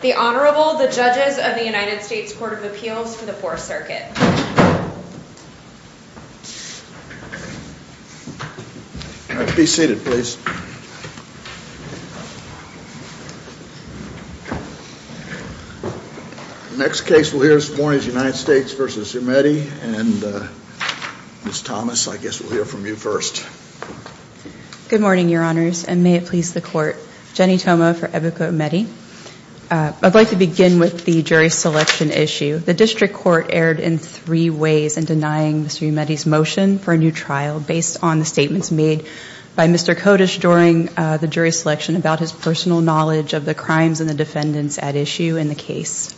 The Honorable, the Judges of the United States Court of Appeals for the Fourth Circuit. Be seated please. Next case we'll hear this morning is United States v. Umeti and Ms. Thomas I guess we'll hear from you first. Good morning, Your Honors, and may it please the Court. Jenny Toma for Ebuka Umeti. I'd like to begin with the jury selection issue. The District Court erred in three ways in denying Mr. Umeti's motion for a new trial based on the statements made by Mr. Kodesh during the jury selection about his personal knowledge of the crimes and the defendants at issue in the case.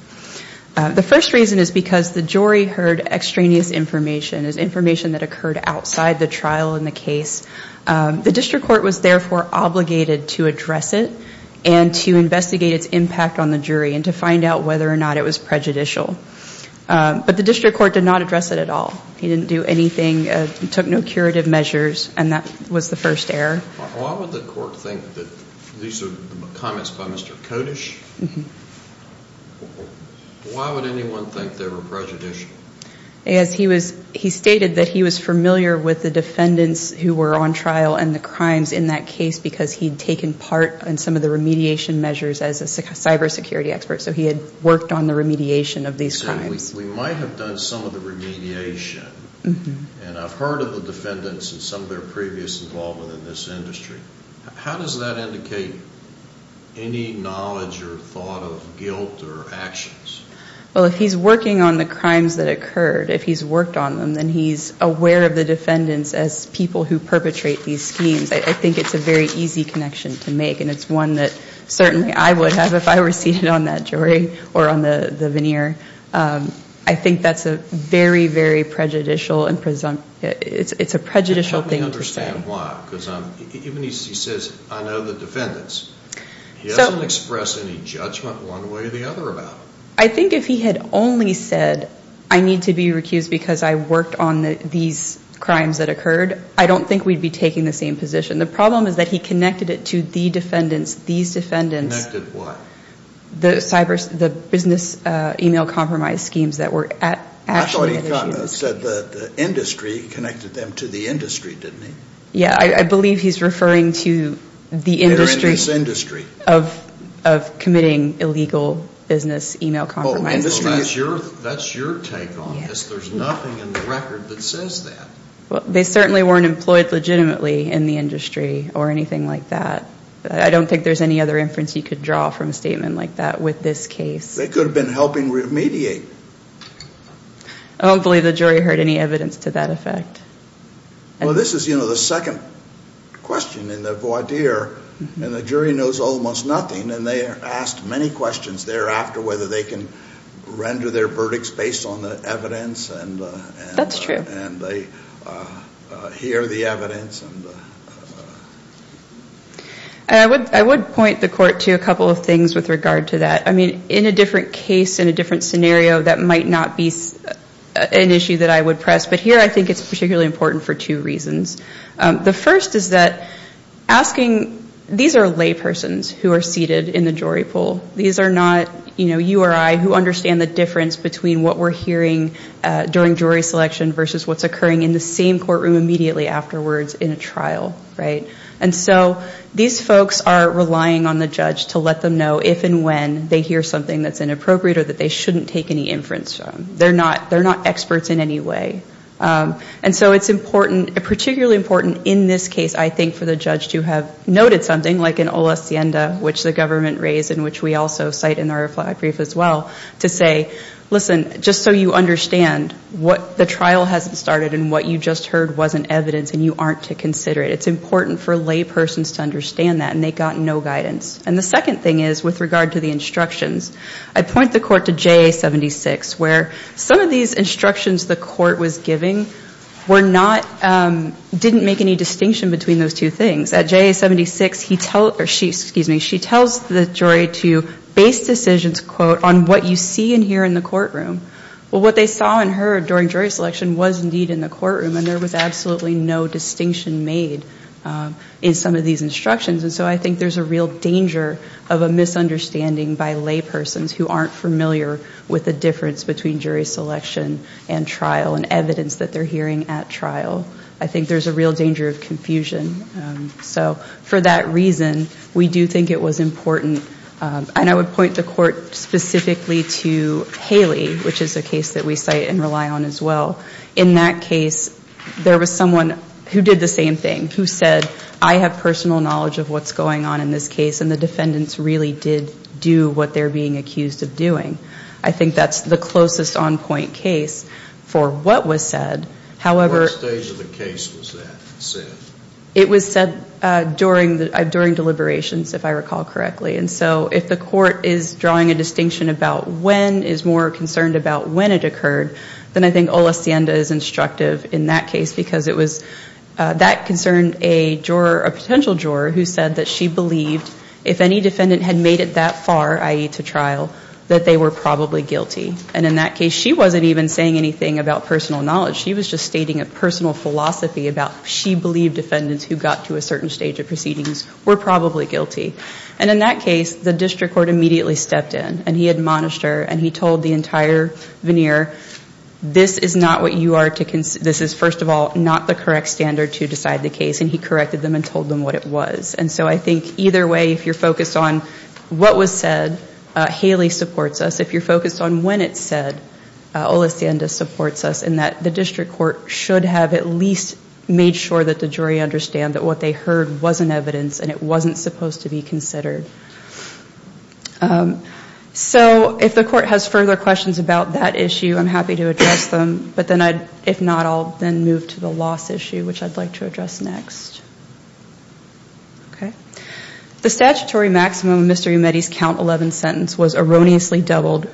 The first reason is because the jury heard extraneous information, information that occurred outside the trial in the case. The District Court was therefore obligated to address it and to investigate its impact on the jury and to find out whether or not it was prejudicial. But the District Court did not address it at all. He didn't do anything, took no curative measures, and that was the first error. Why would the Court think that these are comments by Mr. Kodesh? Why would anyone think they were prejudicial? He stated that he was familiar with the defendants who were on trial and the crimes in that case because he'd taken part in some of the remediation measures as a cybersecurity expert, so he had worked on the remediation of these crimes. We might have done some of the remediation, and I've heard of the defendants and some of their previous involvement in this industry. How does that indicate any knowledge or thought of guilt or actions? Well, if he's working on the crimes that occurred, if he's worked on them, then he's aware of the defendants as people who perpetrate these schemes. I think it's a very easy connection to make, and it's one that certainly I would have if I were seated on that jury or on the veneer. I think that's a very, very prejudicial and presumptive, it's a prejudicial thing to say. Even if he says, I know the defendants, he doesn't express any judgment one way or the other about it. I think if he had only said, I need to be recused because I worked on these crimes that occurred, I don't think we'd be taking the same position. The problem is that he connected it to the defendants, these defendants. Connected what? The business email compromise schemes that were actually at issue. He said the industry connected them to the industry, didn't he? Yeah, I believe he's referring to the industry of committing illegal business email compromises. That's your take on this. There's nothing in the record that says that. They certainly weren't employed legitimately in the industry or anything like that. I don't think there's any other inference you could draw from a statement like that with this case. They could have been helping remediate. I don't believe the jury heard any evidence to that effect. Well, this is the second question in the voir dire, and the jury knows almost nothing, and they are asked many questions thereafter whether they can render their verdicts based on the evidence. That's true. And they hear the evidence. I would point the court to a couple of things with regard to that. I mean, in a different case, in a different scenario, that might not be an issue that I would press, but here I think it's particularly important for two reasons. The first is that asking, these are laypersons who are seated in the jury pool. These are not, you know, you or I who understand the difference between what we're hearing during jury selection versus what's occurring in the same courtroom immediately afterwards in a trial, right? And so these folks are relying on the judge to let them know if and when they hear something that's inappropriate or that they shouldn't take any inference from. They're not experts in any way. And so it's important, particularly important in this case, I think, for the judge to have noted something, like in Olacienda, which the government raised and which we also cite in our flag brief as well, to say, listen, just so you understand what the trial hasn't started and what you just heard wasn't evidence and you aren't to consider it. It's important for laypersons to understand that, and they got no guidance. And the second thing is, with regard to the instructions, I point the court to JA-76, where some of these instructions the court was giving were not, didn't make any distinction between those two things. At JA-76, he tells, or she, excuse me, she tells the jury to base decisions, quote, on what you see and hear in the courtroom. Well, what they saw and heard during jury selection was indeed in the courtroom, and there was absolutely no distinction made in some of these instructions. And so I think there's a real danger of a misunderstanding by laypersons who aren't familiar with the difference between jury selection and trial and evidence that they're hearing at trial. I think there's a real danger of confusion. So for that reason, we do think it was important. And I would point the court specifically to Haley, which is a case that we cite and rely on as well. In that case, there was someone who did the same thing, who said, I have personal knowledge of what's going on in this case, and the defendants really did do what they're being accused of doing. I think that's the closest on-point case for what was said. What stage of the case was that said? It was said during deliberations, if I recall correctly. And so if the court is drawing a distinction about when, is more concerned about when it occurred, then I think Olacienda is instructive in that case, because it was that concerned a potential juror who said that she believed, if any defendant had made it that far, i.e. to trial, that they were probably guilty. And in that case, she wasn't even saying anything about personal knowledge. She was just stating a personal philosophy about, she believed defendants who got to a certain stage of proceedings were probably guilty. And in that case, the district court immediately stepped in, and he admonished her, and he told the entire veneer, this is not what you are to, this is, first of all, not the correct standard to decide the case. And he corrected them and told them what it was. And so I think either way, if you're focused on what was said, Haley supports us. If you're focused on when it's said, Olacienda supports us, in that the district court should have at least made sure that the jury understand that what they heard wasn't evidence, and it wasn't supposed to be considered. So if the court has further questions about that issue, I'm happy to address them. But then I, if not, I'll then move to the loss issue, which I'd like to address next. Okay. The statutory maximum of Mr. Umedi's count 11 sentence was erroneously doubled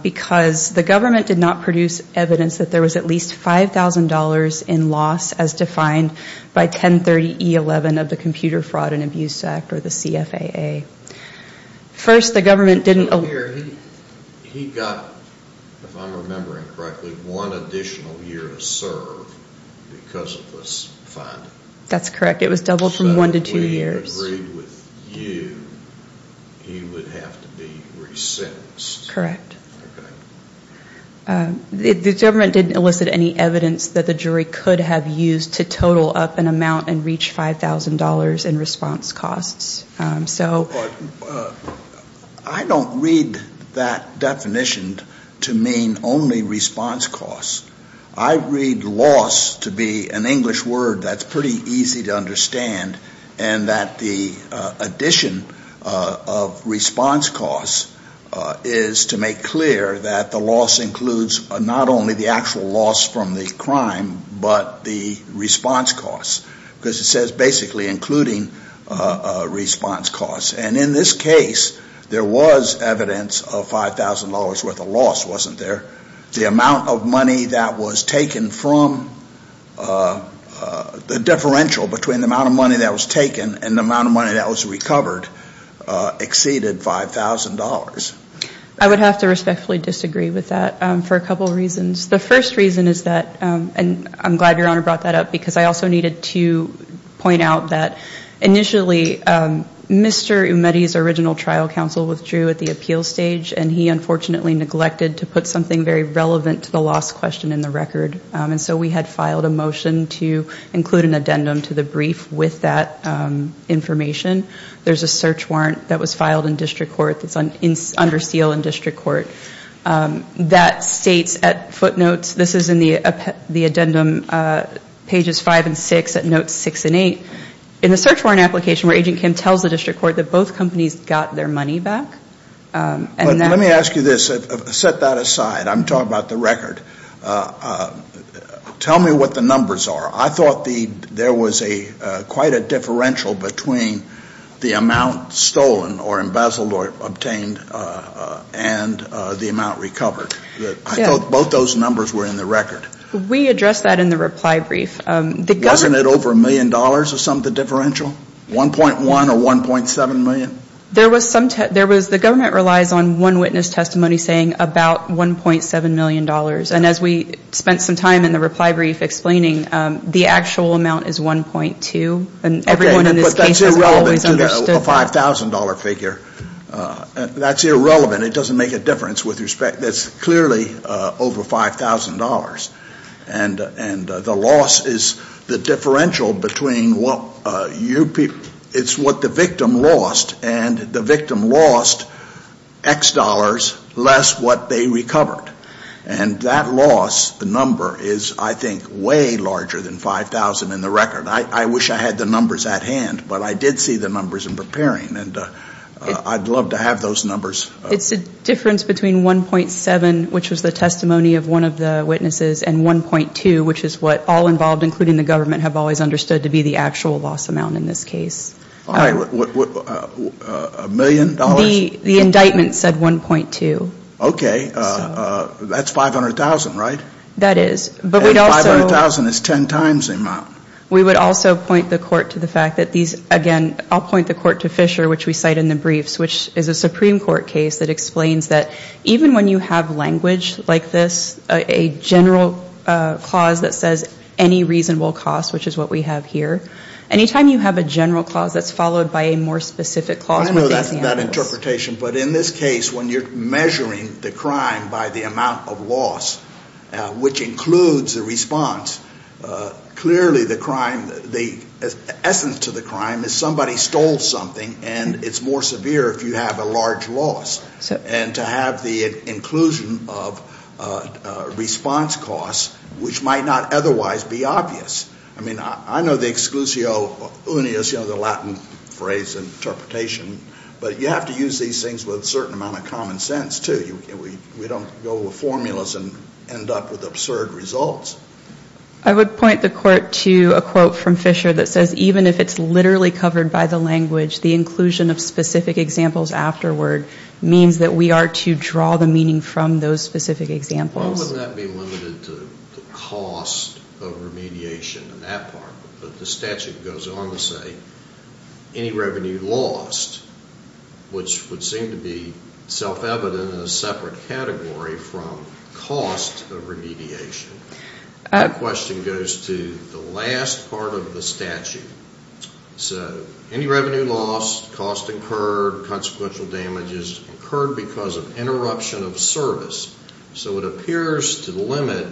because the government did not produce evidence that there was at least $5,000 in loss as defined by 1030E11 of the Computer Fraud and Abuse Act, or the CFAA. First, the government didn't. He got, if I'm remembering correctly, one additional year to serve because of this fine. That's correct. It was doubled from one to two years. So if we agree with you, he would have to be resentenced. Correct. Okay. The government didn't elicit any evidence that the jury could have used to total up an amount and reach $5,000 in response costs. But I don't read that definition to mean only response costs. I read loss to be an English word that's pretty easy to understand and that the addition of response costs is to make clear that the loss includes not only the actual loss from the crime but the response costs because it says basically including response costs. And in this case, there was evidence of $5,000 worth of loss wasn't there? The amount of money that was taken from the differential between the amount of money that was taken and the amount of money that was recovered exceeded $5,000. I would have to respectfully disagree with that for a couple of reasons. The first reason is that, and I'm glad Your Honor brought that up because I also needed to point out that initially Mr. Umedi's original trial counsel withdrew at the appeal stage and he unfortunately neglected to put something very relevant to the loss question in the record. And so we had filed a motion to include an addendum to the brief with that information. There's a search warrant that was filed in district court that's under seal in district court that states at footnotes, this is in the addendum pages 5 and 6 at notes 6 and 8. In the search warrant application where Agent Kim tells the district court that both companies got their money back Let me ask you this, set that aside, I'm talking about the record. Tell me what the numbers are. I thought there was quite a differential between the amount stolen or embezzled or obtained and the amount recovered. I thought both those numbers were in the record. We addressed that in the reply brief. Wasn't it over a million dollars or something, the differential? 1.1 or 1.7 million? There was some, the government relies on one witness testimony saying about 1.7 million dollars. And as we spent some time in the reply brief explaining, the actual amount is 1.2. And everyone in this case has always understood that. Okay, but that's irrelevant to the $5,000 figure. That's irrelevant. It doesn't make a difference with respect, that's clearly over $5,000. And the loss is the differential between what you people, it's what the victim lost and the victim lost X dollars less what they recovered. And that loss, the number, is I think way larger than 5,000 in the record. I wish I had the numbers at hand, but I did see the numbers in preparing. And I'd love to have those numbers. It's the difference between 1.7, which was the testimony of one of the witnesses, and 1.2, which is what all involved, including the government, have always understood to be the actual loss amount in this case. All right. A million dollars? The indictment said 1.2. Okay. That's 500,000, right? That is. And 500,000 is ten times the amount. We would also point the court to the fact that these, again, I'll point the court to Fisher, which we cite in the briefs, which is a Supreme Court case that explains that even when you have language like this, a general clause that says any reasonable cost, which is what we have here, anytime you have a general clause that's followed by a more specific clause. I know that interpretation. But in this case, when you're measuring the crime by the amount of loss, which includes the response, clearly the crime, the essence to the crime is somebody stole something, and it's more severe if you have a large loss. And to have the inclusion of response costs, which might not otherwise be obvious. I mean, I know the exclusio unius, you know, the Latin phrase, interpretation, but you have to use these things with a certain amount of common sense, too. We don't go with formulas and end up with absurd results. I would point the court to a quote from Fisher that says, even if it's literally covered by the language, the inclusion of specific examples afterward means that we are to draw the meaning from those specific examples. Well, wouldn't that be limited to the cost of remediation in that part? But the statute goes on to say any revenue lost, which would seem to be self-evident in a separate category from cost of remediation. The question goes to the last part of the statute. So any revenue lost, cost incurred, consequential damages incurred because of interruption of service. So it appears to limit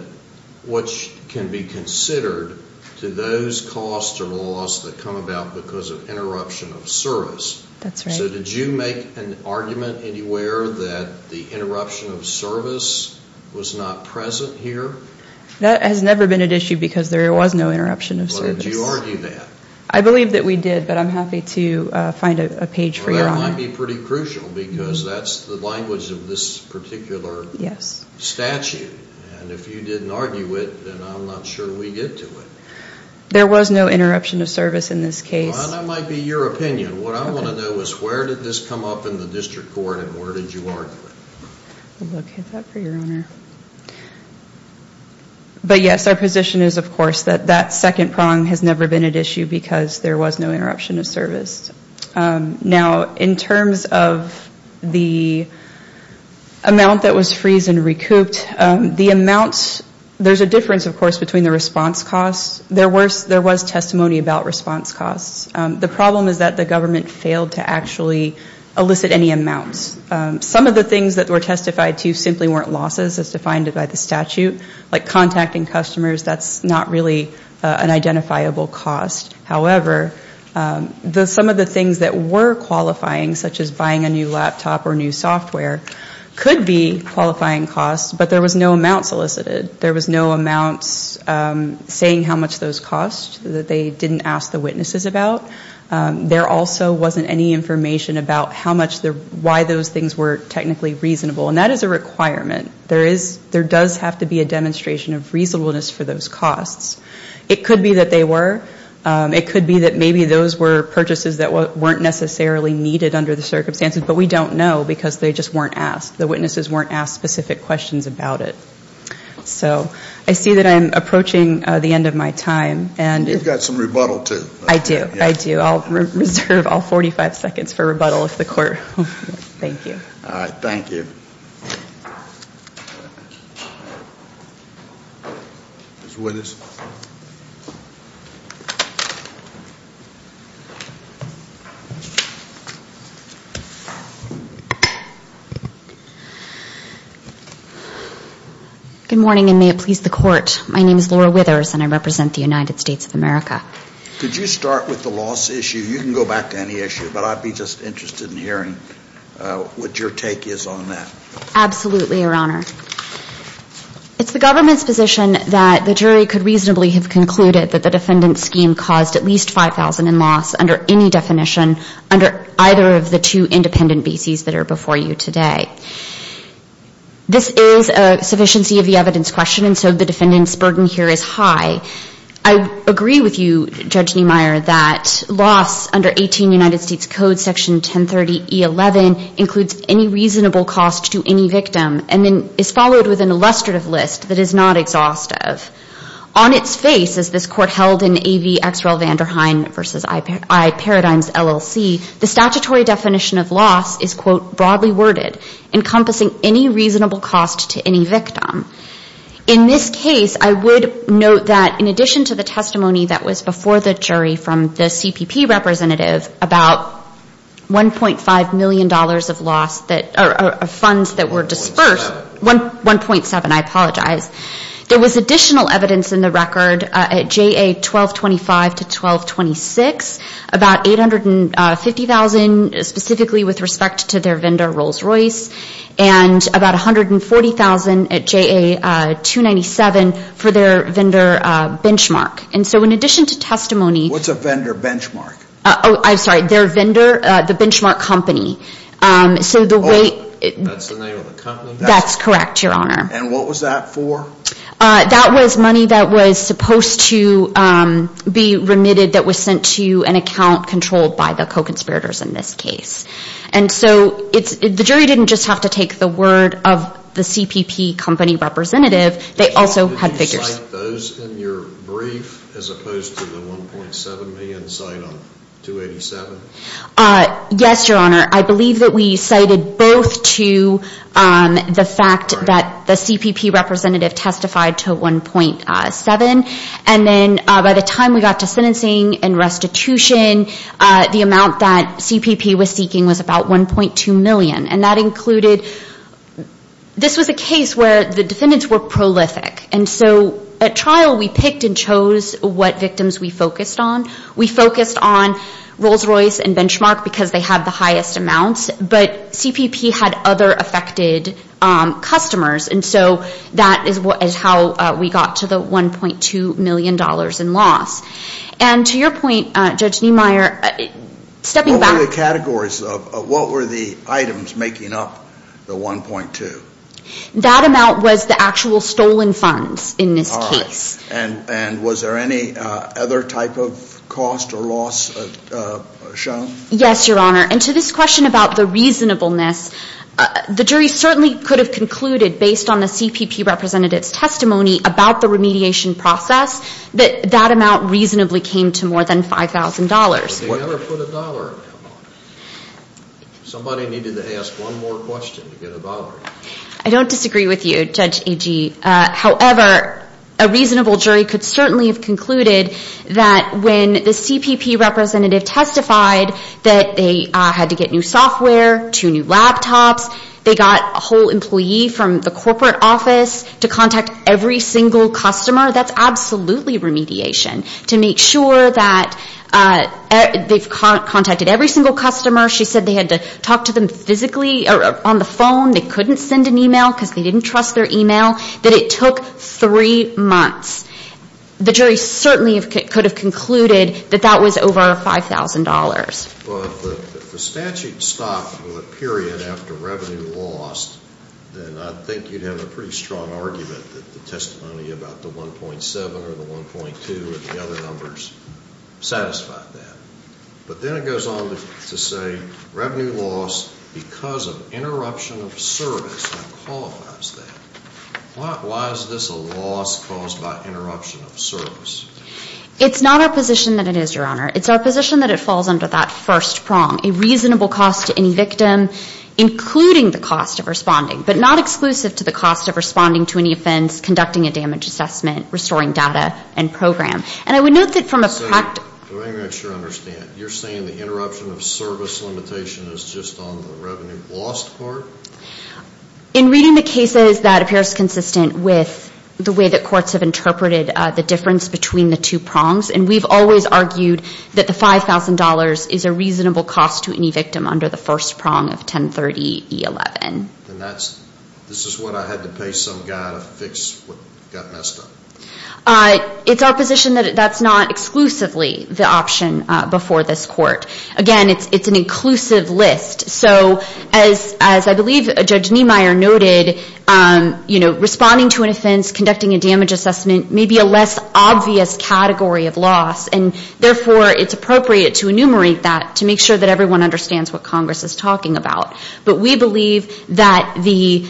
what can be considered to those costs or loss that come about because of interruption of service. That's right. So did you make an argument anywhere that the interruption of service was not present here? That has never been at issue because there was no interruption of service. Well, did you argue that? I believe that we did, but I'm happy to find a page for your argument. Well, that might be pretty crucial because that's the language of this particular statute. And if you didn't argue it, then I'm not sure we get to it. There was no interruption of service in this case. Well, that might be your opinion. What I want to know is where did this come up in the district court and where did you argue it? I'll look at that for your honor. But, yes, our position is, of course, that that second prong has never been at issue because there was no interruption of service. Now, in terms of the amount that was freezed and recouped, there's a difference, of course, between the response costs. There was testimony about response costs. The problem is that the government failed to actually elicit any amounts. Some of the things that were testified to simply weren't losses as defined by the statute, like contacting customers, that's not really an identifiable cost. However, some of the things that were qualifying, such as buying a new laptop or new software, could be qualifying costs, but there was no amounts elicited. There was no amounts saying how much those cost, that they didn't ask the witnesses about. There also wasn't any information about why those things were technically reasonable, and that is a requirement. There does have to be a demonstration of reasonableness for those costs. It could be that they were. It could be that maybe those were purchases that weren't necessarily needed under the circumstances, but we don't know because they just weren't asked. The witnesses weren't asked specific questions about it. So I see that I'm approaching the end of my time. You've got some rebuttal, too. I do. I do. I'll reserve all 45 seconds for rebuttal if the court will. Thank you. All right. Thank you. Ms. Withers. Good morning, and may it please the court. My name is Laura Withers, and I represent the United States of America. Could you start with the loss issue? You can go back to any issue, but I'd be just interested in hearing what your take is on that. Absolutely, Your Honor. It's the government's position that the jury could reasonably have concluded that the defendant's scheme caused at least $5,000 in loss under any definition under either of the two independent BCs that are before you today. This is a sufficiency of the evidence question, and so the defendant's burden here is high. I agree with you, Judge Niemeyer, that loss under 18 United States Code Section 1030E11 includes any reasonable cost to any victim and then is followed with an illustrative list that is not exhaustive. On its face, as this court held in A.V. X. Relvanderhine v. I. Paradigm's LLC, the statutory definition of loss is, quote, broadly worded, encompassing any reasonable cost to any victim. In this case, I would note that in addition to the testimony that was before the jury from the CPP representative about $1.5 million of funds that were disbursed. 1.7. 1.7, I apologize. There was additional evidence in the record at JA 1225 to 1226, about $850,000 specifically with respect to their vendor, Rolls-Royce, and about $140,000 at JA 297 for their vendor, Benchmark. And so in addition to testimony. What's a vendor, Benchmark? Oh, I'm sorry. Their vendor, the Benchmark company. So the way. That's the name of the company? That's correct, Your Honor. And what was that for? That was money that was supposed to be remitted that was sent to an account controlled by the co-conspirators in this case. And so the jury didn't just have to take the word of the CPP company representative. They also had figures. Did you cite those in your brief as opposed to the $1.7 million cite on 287? Yes, Your Honor. I believe that we cited both to the fact that the CPP representative testified to $1.7 and then by the time we got to sentencing and restitution, the amount that CPP was seeking was about $1.2 million. And that included, this was a case where the defendants were prolific. And so at trial we picked and chose what victims we focused on. We focused on Rolls-Royce and Benchmark because they had the highest amounts, but CPP had other affected customers. And so that is how we got to the $1.2 million in loss. And to your point, Judge Niemeyer, stepping back. What were the categories? What were the items making up the $1.2? That amount was the actual stolen funds in this case. And was there any other type of cost or loss shown? Yes, Your Honor. And to this question about the reasonableness, the jury certainly could have concluded based on the CPP representative's testimony about the remediation process that that amount reasonably came to more than $5,000. But they never put $1. Somebody needed to ask one more question to get $1. I don't disagree with you, Judge Agee. However, a reasonable jury could certainly have concluded that when the CPP representative testified that they had to get new software, two new laptops, they got a whole employee from the corporate office to contact every single customer, that's absolutely remediation to make sure that they've contacted every single customer. She said they had to talk to them physically or on the phone. They couldn't send an email because they didn't trust their email. That it took three months. The jury certainly could have concluded that that was over $5,000. Well, if the statute stopped for a period after revenue lost, then I think you'd have a pretty strong argument that the testimony about the 1.7 or the 1.2 or the other numbers satisfied that. But then it goes on to say revenue loss because of interruption of service qualifies that. Why is this a loss caused by interruption of service? It's not our position that it is, Your Honor. It's our position that it falls under that first prong. A reasonable cost to any victim, including the cost of responding, but not exclusive to the cost of responding to any offense, conducting a damage assessment, restoring data and program. And I would note that from a practical point of view. Do I make sure I understand? You're saying the interruption of service limitation is just on the revenue lost part? In reading the cases, that appears consistent with the way that courts have interpreted the difference between the two prongs. And we've always argued that the $5,000 is a reasonable cost to any victim under the first prong of 1030E11. And this is what I had to pay some guy to fix what got messed up? It's our position that that's not exclusively the option before this court. Again, it's an inclusive list. So as I believe Judge Niemeyer noted, you know, responding to an offense, conducting a damage assessment may be a less obvious category of loss, and therefore it's appropriate to enumerate that to make sure that everyone understands what Congress is talking about. But we believe that the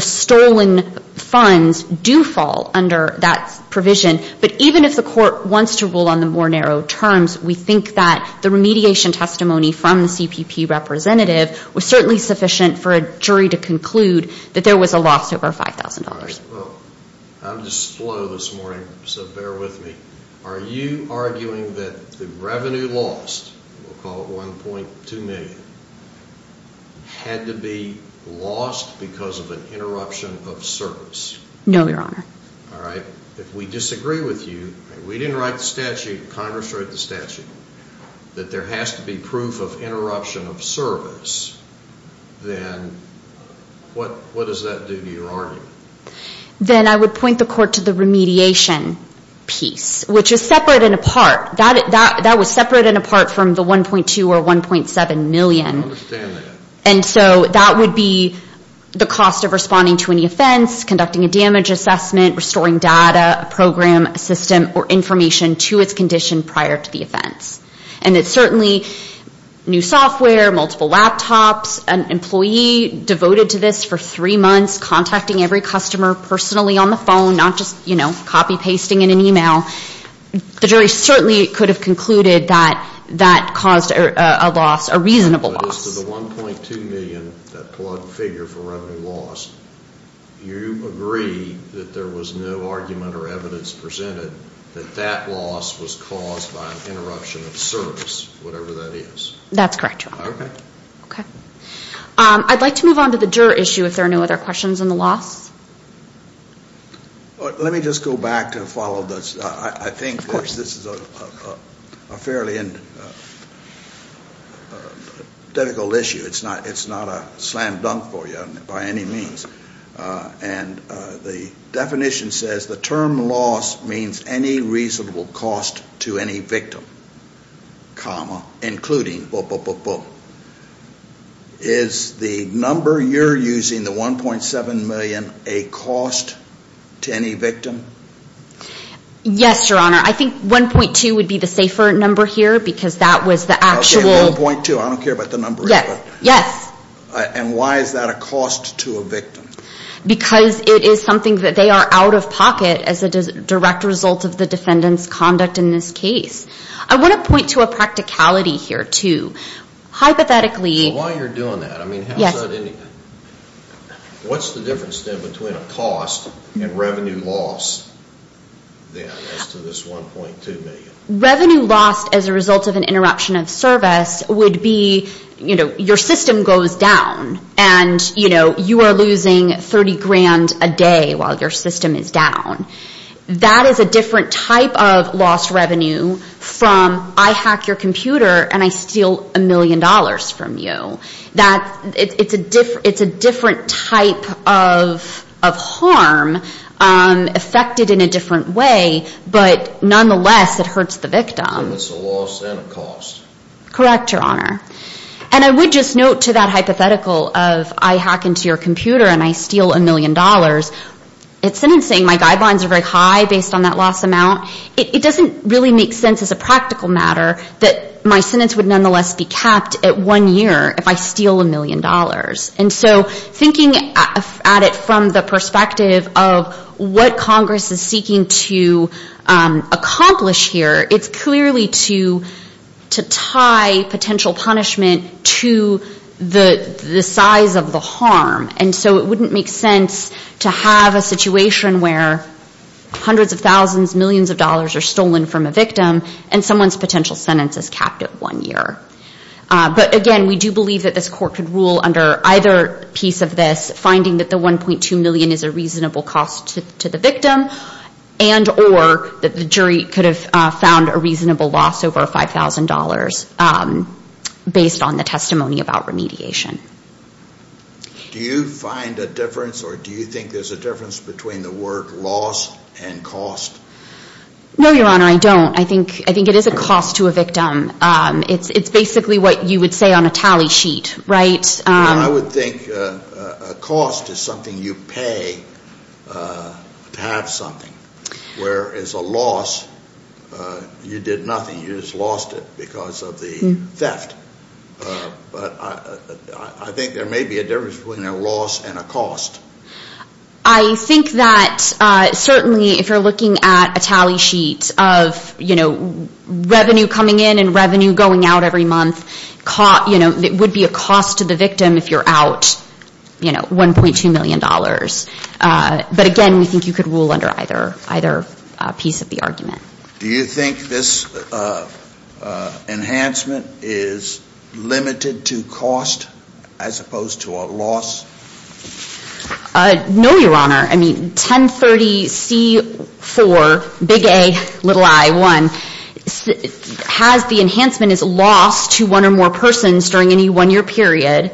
stolen funds do fall under that provision. But even if the court wants to rule on the more narrow terms, we think that the remediation testimony from the CPP representative was certainly sufficient for a jury to conclude that there was a loss over $5,000. Well, I'm just slow this morning, so bear with me. Are you arguing that the revenue lost, we'll call it $1.2 million, had to be lost because of an interruption of service? No, Your Honor. All right. If we disagree with you, we didn't write the statute, Congress wrote the statute, that there has to be proof of interruption of service, then what does that do to your argument? Then I would point the court to the remediation piece, which is separate and apart. That was separate and apart from the $1.2 or $1.7 million. I understand that. And so that would be the cost of responding to any offense, conducting a damage assessment, restoring data, a program, a system, or information to its condition prior to the offense. And it's certainly new software, multiple laptops, an employee devoted to this for three months, contacting every customer personally on the phone, not just, you know, copy pasting in an e-mail. The jury certainly could have concluded that that caused a loss, a reasonable loss. If it was to the $1.2 million, that plug figure for revenue loss, you agree that there was no argument or evidence presented that that loss was caused by an interruption of service, whatever that is? That's correct, Your Honor. Okay. Okay. I'd like to move on to the juror issue if there are no other questions on the loss. Let me just go back to follow this. I think this is a fairly difficult issue. It's not a slam dunk for you by any means. And the definition says the term loss means any reasonable cost to any victim, comma, including, is the number you're using, the $1.7 million, a cost to any victim? Yes, Your Honor. I think $1.2 would be the safer number here because that was the actual. Okay, $1.2. I don't care about the number. Yes. Yes. And why is that a cost to a victim? Because it is something that they are out of pocket as a direct result of the defendant's conduct in this case. I want to point to a practicality here, too. Hypothetically. While you're doing that, I mean, how is that any? Yes. What's the difference then between a cost and revenue loss then as to this $1.2 million? Revenue lost as a result of an interruption of service would be, you know, your system goes down. And, you know, you are losing $30,000 a day while your system is down. That is a different type of lost revenue from I hack your computer and I steal $1 million from you. It's a different type of harm affected in a different way, but nonetheless it hurts the victim. It's a loss and a cost. Correct, Your Honor. And I would just note to that hypothetical of I hack into your computer and I steal $1 million, in sentencing my guidelines are very high based on that loss amount. It doesn't really make sense as a practical matter that my sentence would nonetheless be capped at one year if I steal $1 million. And so thinking at it from the perspective of what Congress is seeking to accomplish here, it's clearly to tie potential punishment to the size of the harm. And so it wouldn't make sense to have a situation where hundreds of thousands, millions of dollars are stolen from a victim and someone's potential sentence is capped at one year. But, again, we do believe that this court could rule under either piece of this, finding that the $1.2 million is a reasonable cost to the victim and or that the jury could have found a reasonable loss over $5,000 based on the testimony about remediation. Do you find a difference or do you think there's a difference between the word loss and cost? No, Your Honor, I don't. I think it is a cost to a victim. It's basically what you would say on a tally sheet, right? I would think a cost is something you pay to have something. Whereas a loss, you did nothing. You just lost it because of the theft. But I think there may be a difference between a loss and a cost. I think that certainly if you're looking at a tally sheet of, you know, revenue coming in and revenue going out every month, you know, it would be a cost to the victim if you're out, you know, $1.2 million. But, again, we think you could rule under either piece of the argument. Do you think this enhancement is limited to cost as opposed to a loss? No, Your Honor. I mean, 1030C4, big A, little I, 1, has the enhancement as loss to one or more persons during any one-year period.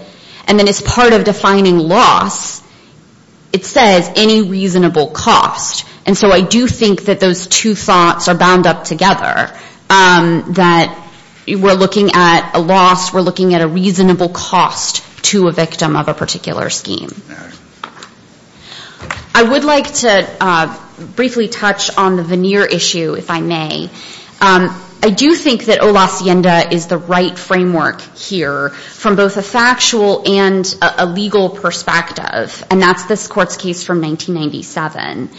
And then as part of defining loss, it says any reasonable cost. And so I do think that those two thoughts are bound up together, that we're looking at a loss. We're looking at a reasonable cost to a victim of a particular scheme. I would like to briefly touch on the veneer issue, if I may. I do think that o lasienda is the right framework here from both a factual and a legal perspective, and that's this Court's case from 1997.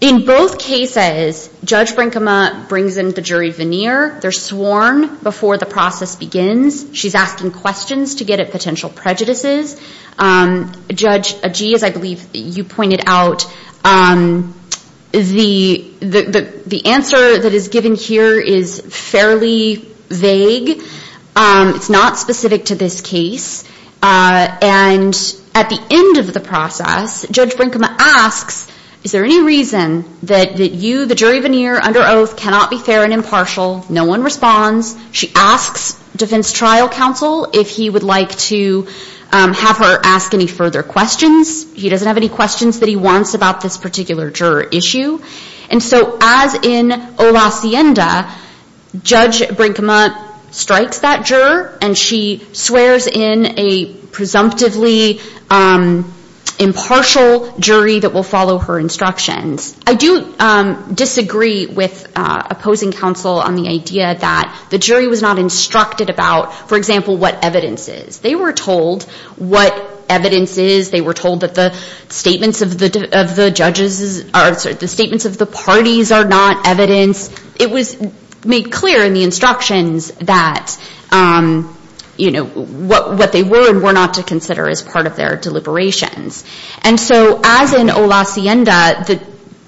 In both cases, Judge Brinkema brings in the jury veneer. They're sworn before the process begins. She's asking questions to get at potential prejudices. Judge Agee, as I believe you pointed out, the answer that is given here is fairly vague. It's not specific to this case. And at the end of the process, Judge Brinkema asks, is there any reason that you, the jury veneer under oath, cannot be fair and impartial? No one responds. She asks defense trial counsel if he would like to have her ask any further questions. He doesn't have any questions that he wants about this particular juror issue. And so as in o lasienda, Judge Brinkema strikes that juror, and she swears in a presumptively impartial jury that will follow her instructions. I do disagree with opposing counsel on the idea that the jury was not instructed about, for example, what evidence is. They were told what evidence is. They were told that the statements of the parties are not evidence. It was made clear in the instructions that, you know, what they were and were not to consider as part of their deliberations. And so as in o lasienda,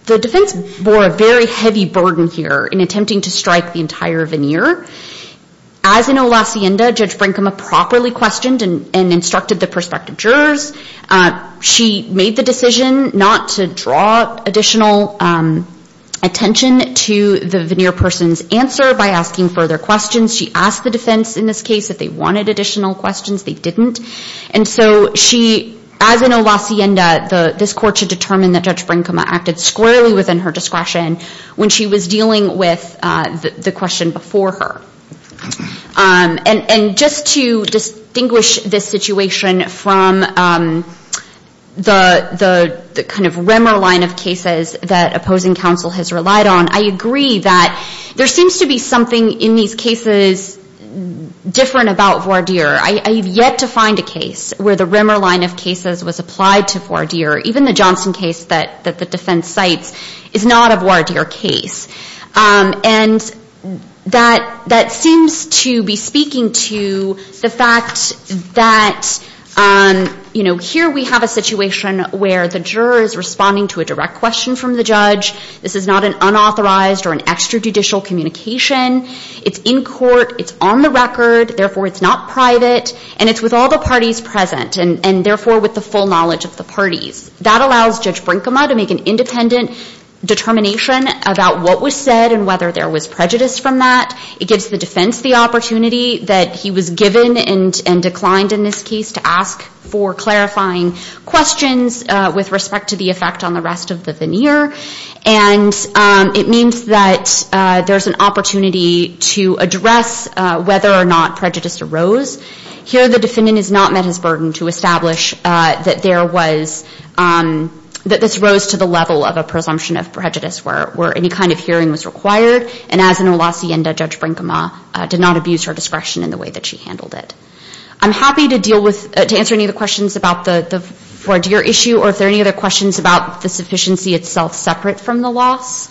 the defense bore a very heavy burden here in attempting to strike the entire veneer. As in o lasienda, Judge Brinkema properly questioned and instructed the prospective jurors. She made the decision not to draw additional attention to the veneer person's answer by asking further questions. She asked the defense in this case if they wanted additional questions. They didn't. And so she, as in o lasienda, this court should determine that Judge Brinkema acted squarely within her discretion when she was dealing with the question before her. And just to distinguish this situation from the kind of rimmer line of cases that opposing counsel has relied on, I agree that there seems to be something in these cases different about voir dire. I have yet to find a case where the rimmer line of cases was applied to voir dire. Even the Johnson case that the defense cites is not a voir dire case. And that seems to be speaking to the fact that, you know, here we have a situation where the juror is responding to a direct question from the judge. This is not an unauthorized or an extrajudicial communication. It's in court. It's on the record. Therefore, it's not private. And it's with all the parties present and, therefore, with the full knowledge of the parties. That allows Judge Brinkema to make an independent determination about what was said and whether there was prejudice from that. It gives the defense the opportunity that he was given and declined in this case to ask for clarifying questions with respect to the effect on the rest of the veneer. And it means that there's an opportunity to address whether or not prejudice arose. Here the defendant has not met his burden to establish that there was, that this rose to the level of a presumption of prejudice where any kind of hearing was required. And as in Olacienda, Judge Brinkema did not abuse her discretion in the way that she handled it. I'm happy to deal with, to answer any of the questions about the voir dire issue or if there are any other questions about the sufficiency itself separate from the loss.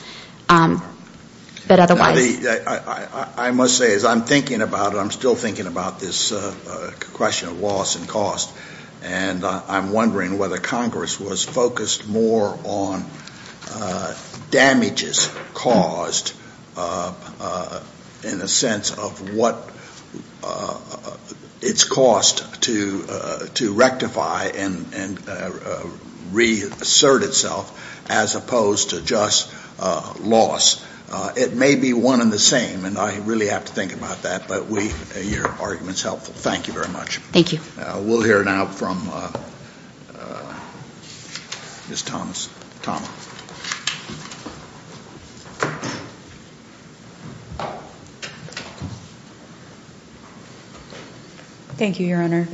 But otherwise. I must say, as I'm thinking about it, I'm still thinking about this question of loss and cost. And I'm wondering whether Congress was focused more on damages caused, in a sense of what its cost to rectify and reassert itself as opposed to just loss. It may be one and the same, and I really have to think about that. But your argument is helpful. Thank you very much. Thank you. We'll hear now from Ms. Thomas-Tama. Thank you, Your Honor.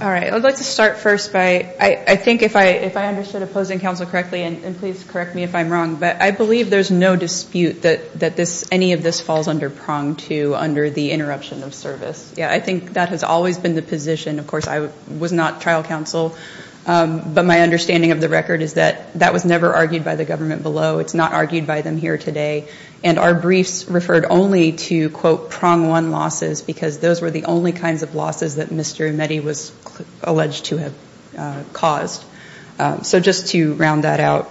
All right, I'd like to start first by, I think if I understood opposing counsel correctly, and please correct me if I'm wrong, but I believe there's no dispute that any of this falls under prong to under the interruption of service. Yeah, I think that has always been the position. Of course, I was not trial counsel. But my understanding of the record is that that was never argued by the government below. It's not argued by them here today. And our briefs referred only to, quote, prong one losses, because those were the only kinds of losses that Mr. Emetti was alleged to have caused. So just to round that out.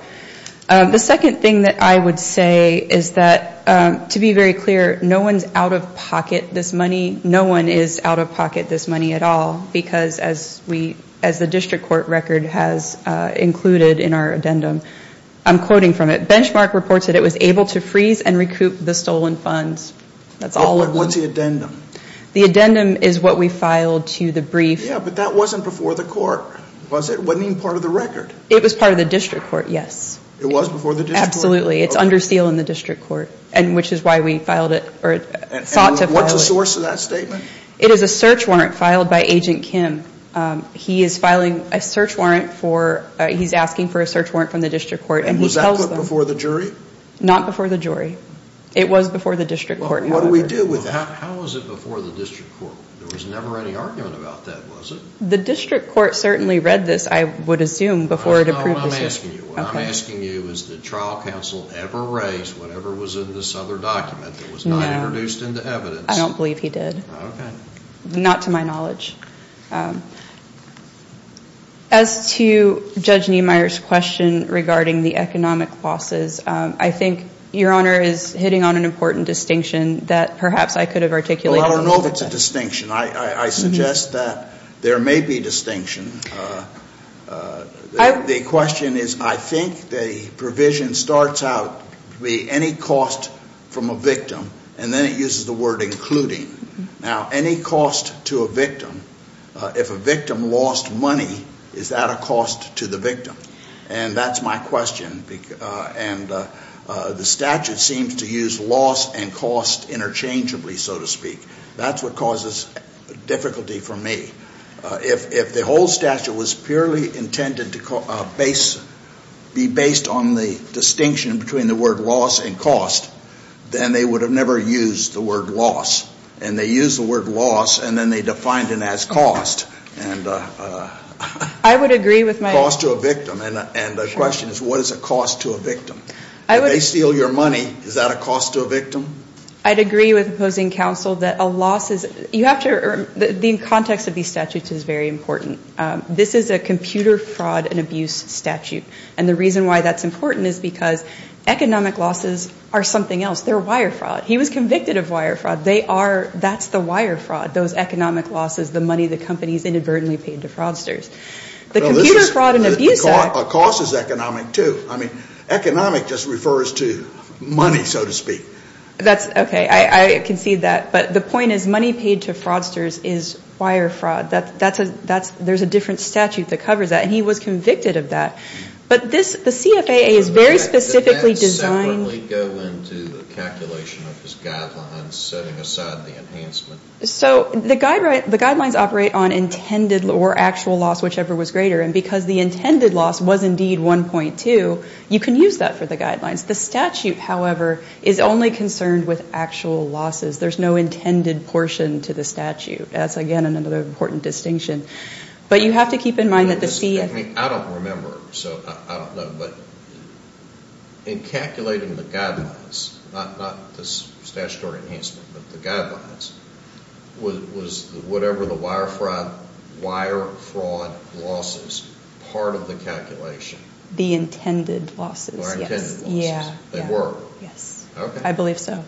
The second thing that I would say is that, to be very clear, no one's out of pocket this money. No one is out of pocket this money at all, because as the district court record has included in our addendum, I'm quoting from it, benchmark reports that it was able to freeze and recoup the stolen funds. That's all of them. What's the addendum? The addendum is what we filed to the brief. Yeah, but that wasn't before the court, was it? It wasn't even part of the record. It was part of the district court, yes. It was before the district court? Absolutely. It's under seal in the district court, which is why we filed it, or sought to file it. And what's the source of that statement? It is a search warrant filed by Agent Kim. He is filing a search warrant for, he's asking for a search warrant from the district court. And was that put before the jury? Not before the jury. It was before the district court. What do we do with that? How was it before the district court? There was never any argument about that, was it? The district court certainly read this, I would assume, before it approved the search warrant. What I'm asking you is, did trial counsel ever raise whatever was in this other document that was not introduced into evidence? I don't believe he did. Okay. Not to my knowledge. As to Judge Niemeyer's question regarding the economic losses, I think Your Honor is hitting on an important distinction that perhaps I could have articulated. Well, I don't know if it's a distinction. I suggest that there may be distinction. The question is, I think the provision starts out to be any cost from a victim, and then it uses the word including. Now, any cost to a victim, if a victim lost money, is that a cost to the victim? And that's my question. And the statute seems to use loss and cost interchangeably, so to speak. That's what causes difficulty for me. If the whole statute was purely intended to be based on the distinction between the word loss and cost, then they would have never used the word loss. And they used the word loss, and then they defined it as cost. I would agree with my – Cost to a victim. And the question is, what is a cost to a victim? If they steal your money, is that a cost to a victim? I'd agree with opposing counsel that a loss is – you have to – the context of these statutes is very important. This is a computer fraud and abuse statute. And the reason why that's important is because economic losses are something else. They're wire fraud. He was convicted of wire fraud. They are – that's the wire fraud, those economic losses, the money the companies inadvertently paid to fraudsters. The computer fraud and abuse act – The cost is economic, too. I mean, economic just refers to money, so to speak. That's – okay, I can see that. But the point is money paid to fraudsters is wire fraud. That's a – there's a different statute that covers that, and he was convicted of that. But this – the CFAA is very specifically designed – Does that separately go into the calculation of his guidelines, setting aside the enhancement? So the guidelines operate on intended or actual loss, whichever was greater. And because the intended loss was indeed 1.2, you can use that for the guidelines. The statute, however, is only concerned with actual losses. There's no intended portion to the statute. That's, again, another important distinction. But you have to keep in mind that the CFAA – I don't remember, so I don't know, but in calculating the guidelines – not the statutory enhancement, but the guidelines – was whatever the wire fraud losses part of the calculation? The intended losses, yes. The intended losses. They were? Yes. Okay. I believe so.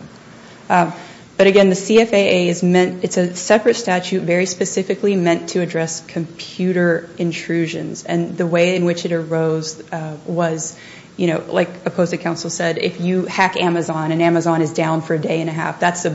But, again, the CFAA is meant – it's a separate statute very specifically meant to address computer intrusions. And the way in which it arose was, you know, like a post-it council said, if you hack Amazon and Amazon is down for a day and a half, that's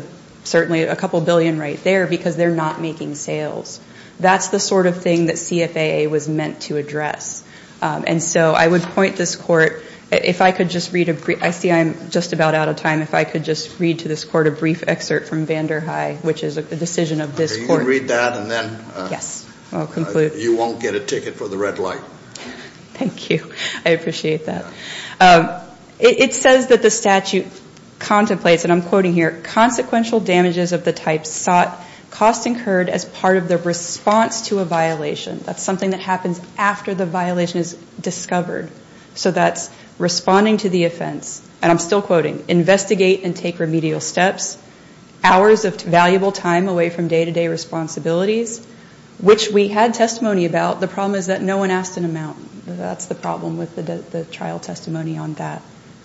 certainly a couple billion right there because they're not making sales. That's the sort of thing that CFAA was meant to address. And so I would point this court – if I could just read – I see I'm just about out of time. If I could just read to this court a brief excerpt from Vander High, which is a decision of this court. You can read that and then you won't get a ticket for the red light. Thank you. I appreciate that. It says that the statute contemplates, and I'm quoting here, consequential damages of the type sought, cost incurred, as part of the response to a violation. That's something that happens after the violation is discovered. So that's responding to the offense. And I'm still quoting, investigate and take remedial steps, hours of valuable time away from day-to-day responsibilities, which we had testimony about. The problem is that no one asked an amount. That's the problem with the trial testimony on that.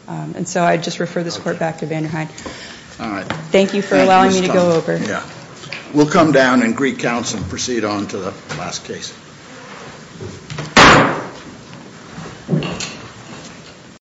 And so I just refer this court back to Vander High. All right. Thank you for allowing me to go over. We'll come down and greet counsel and proceed on to the last case.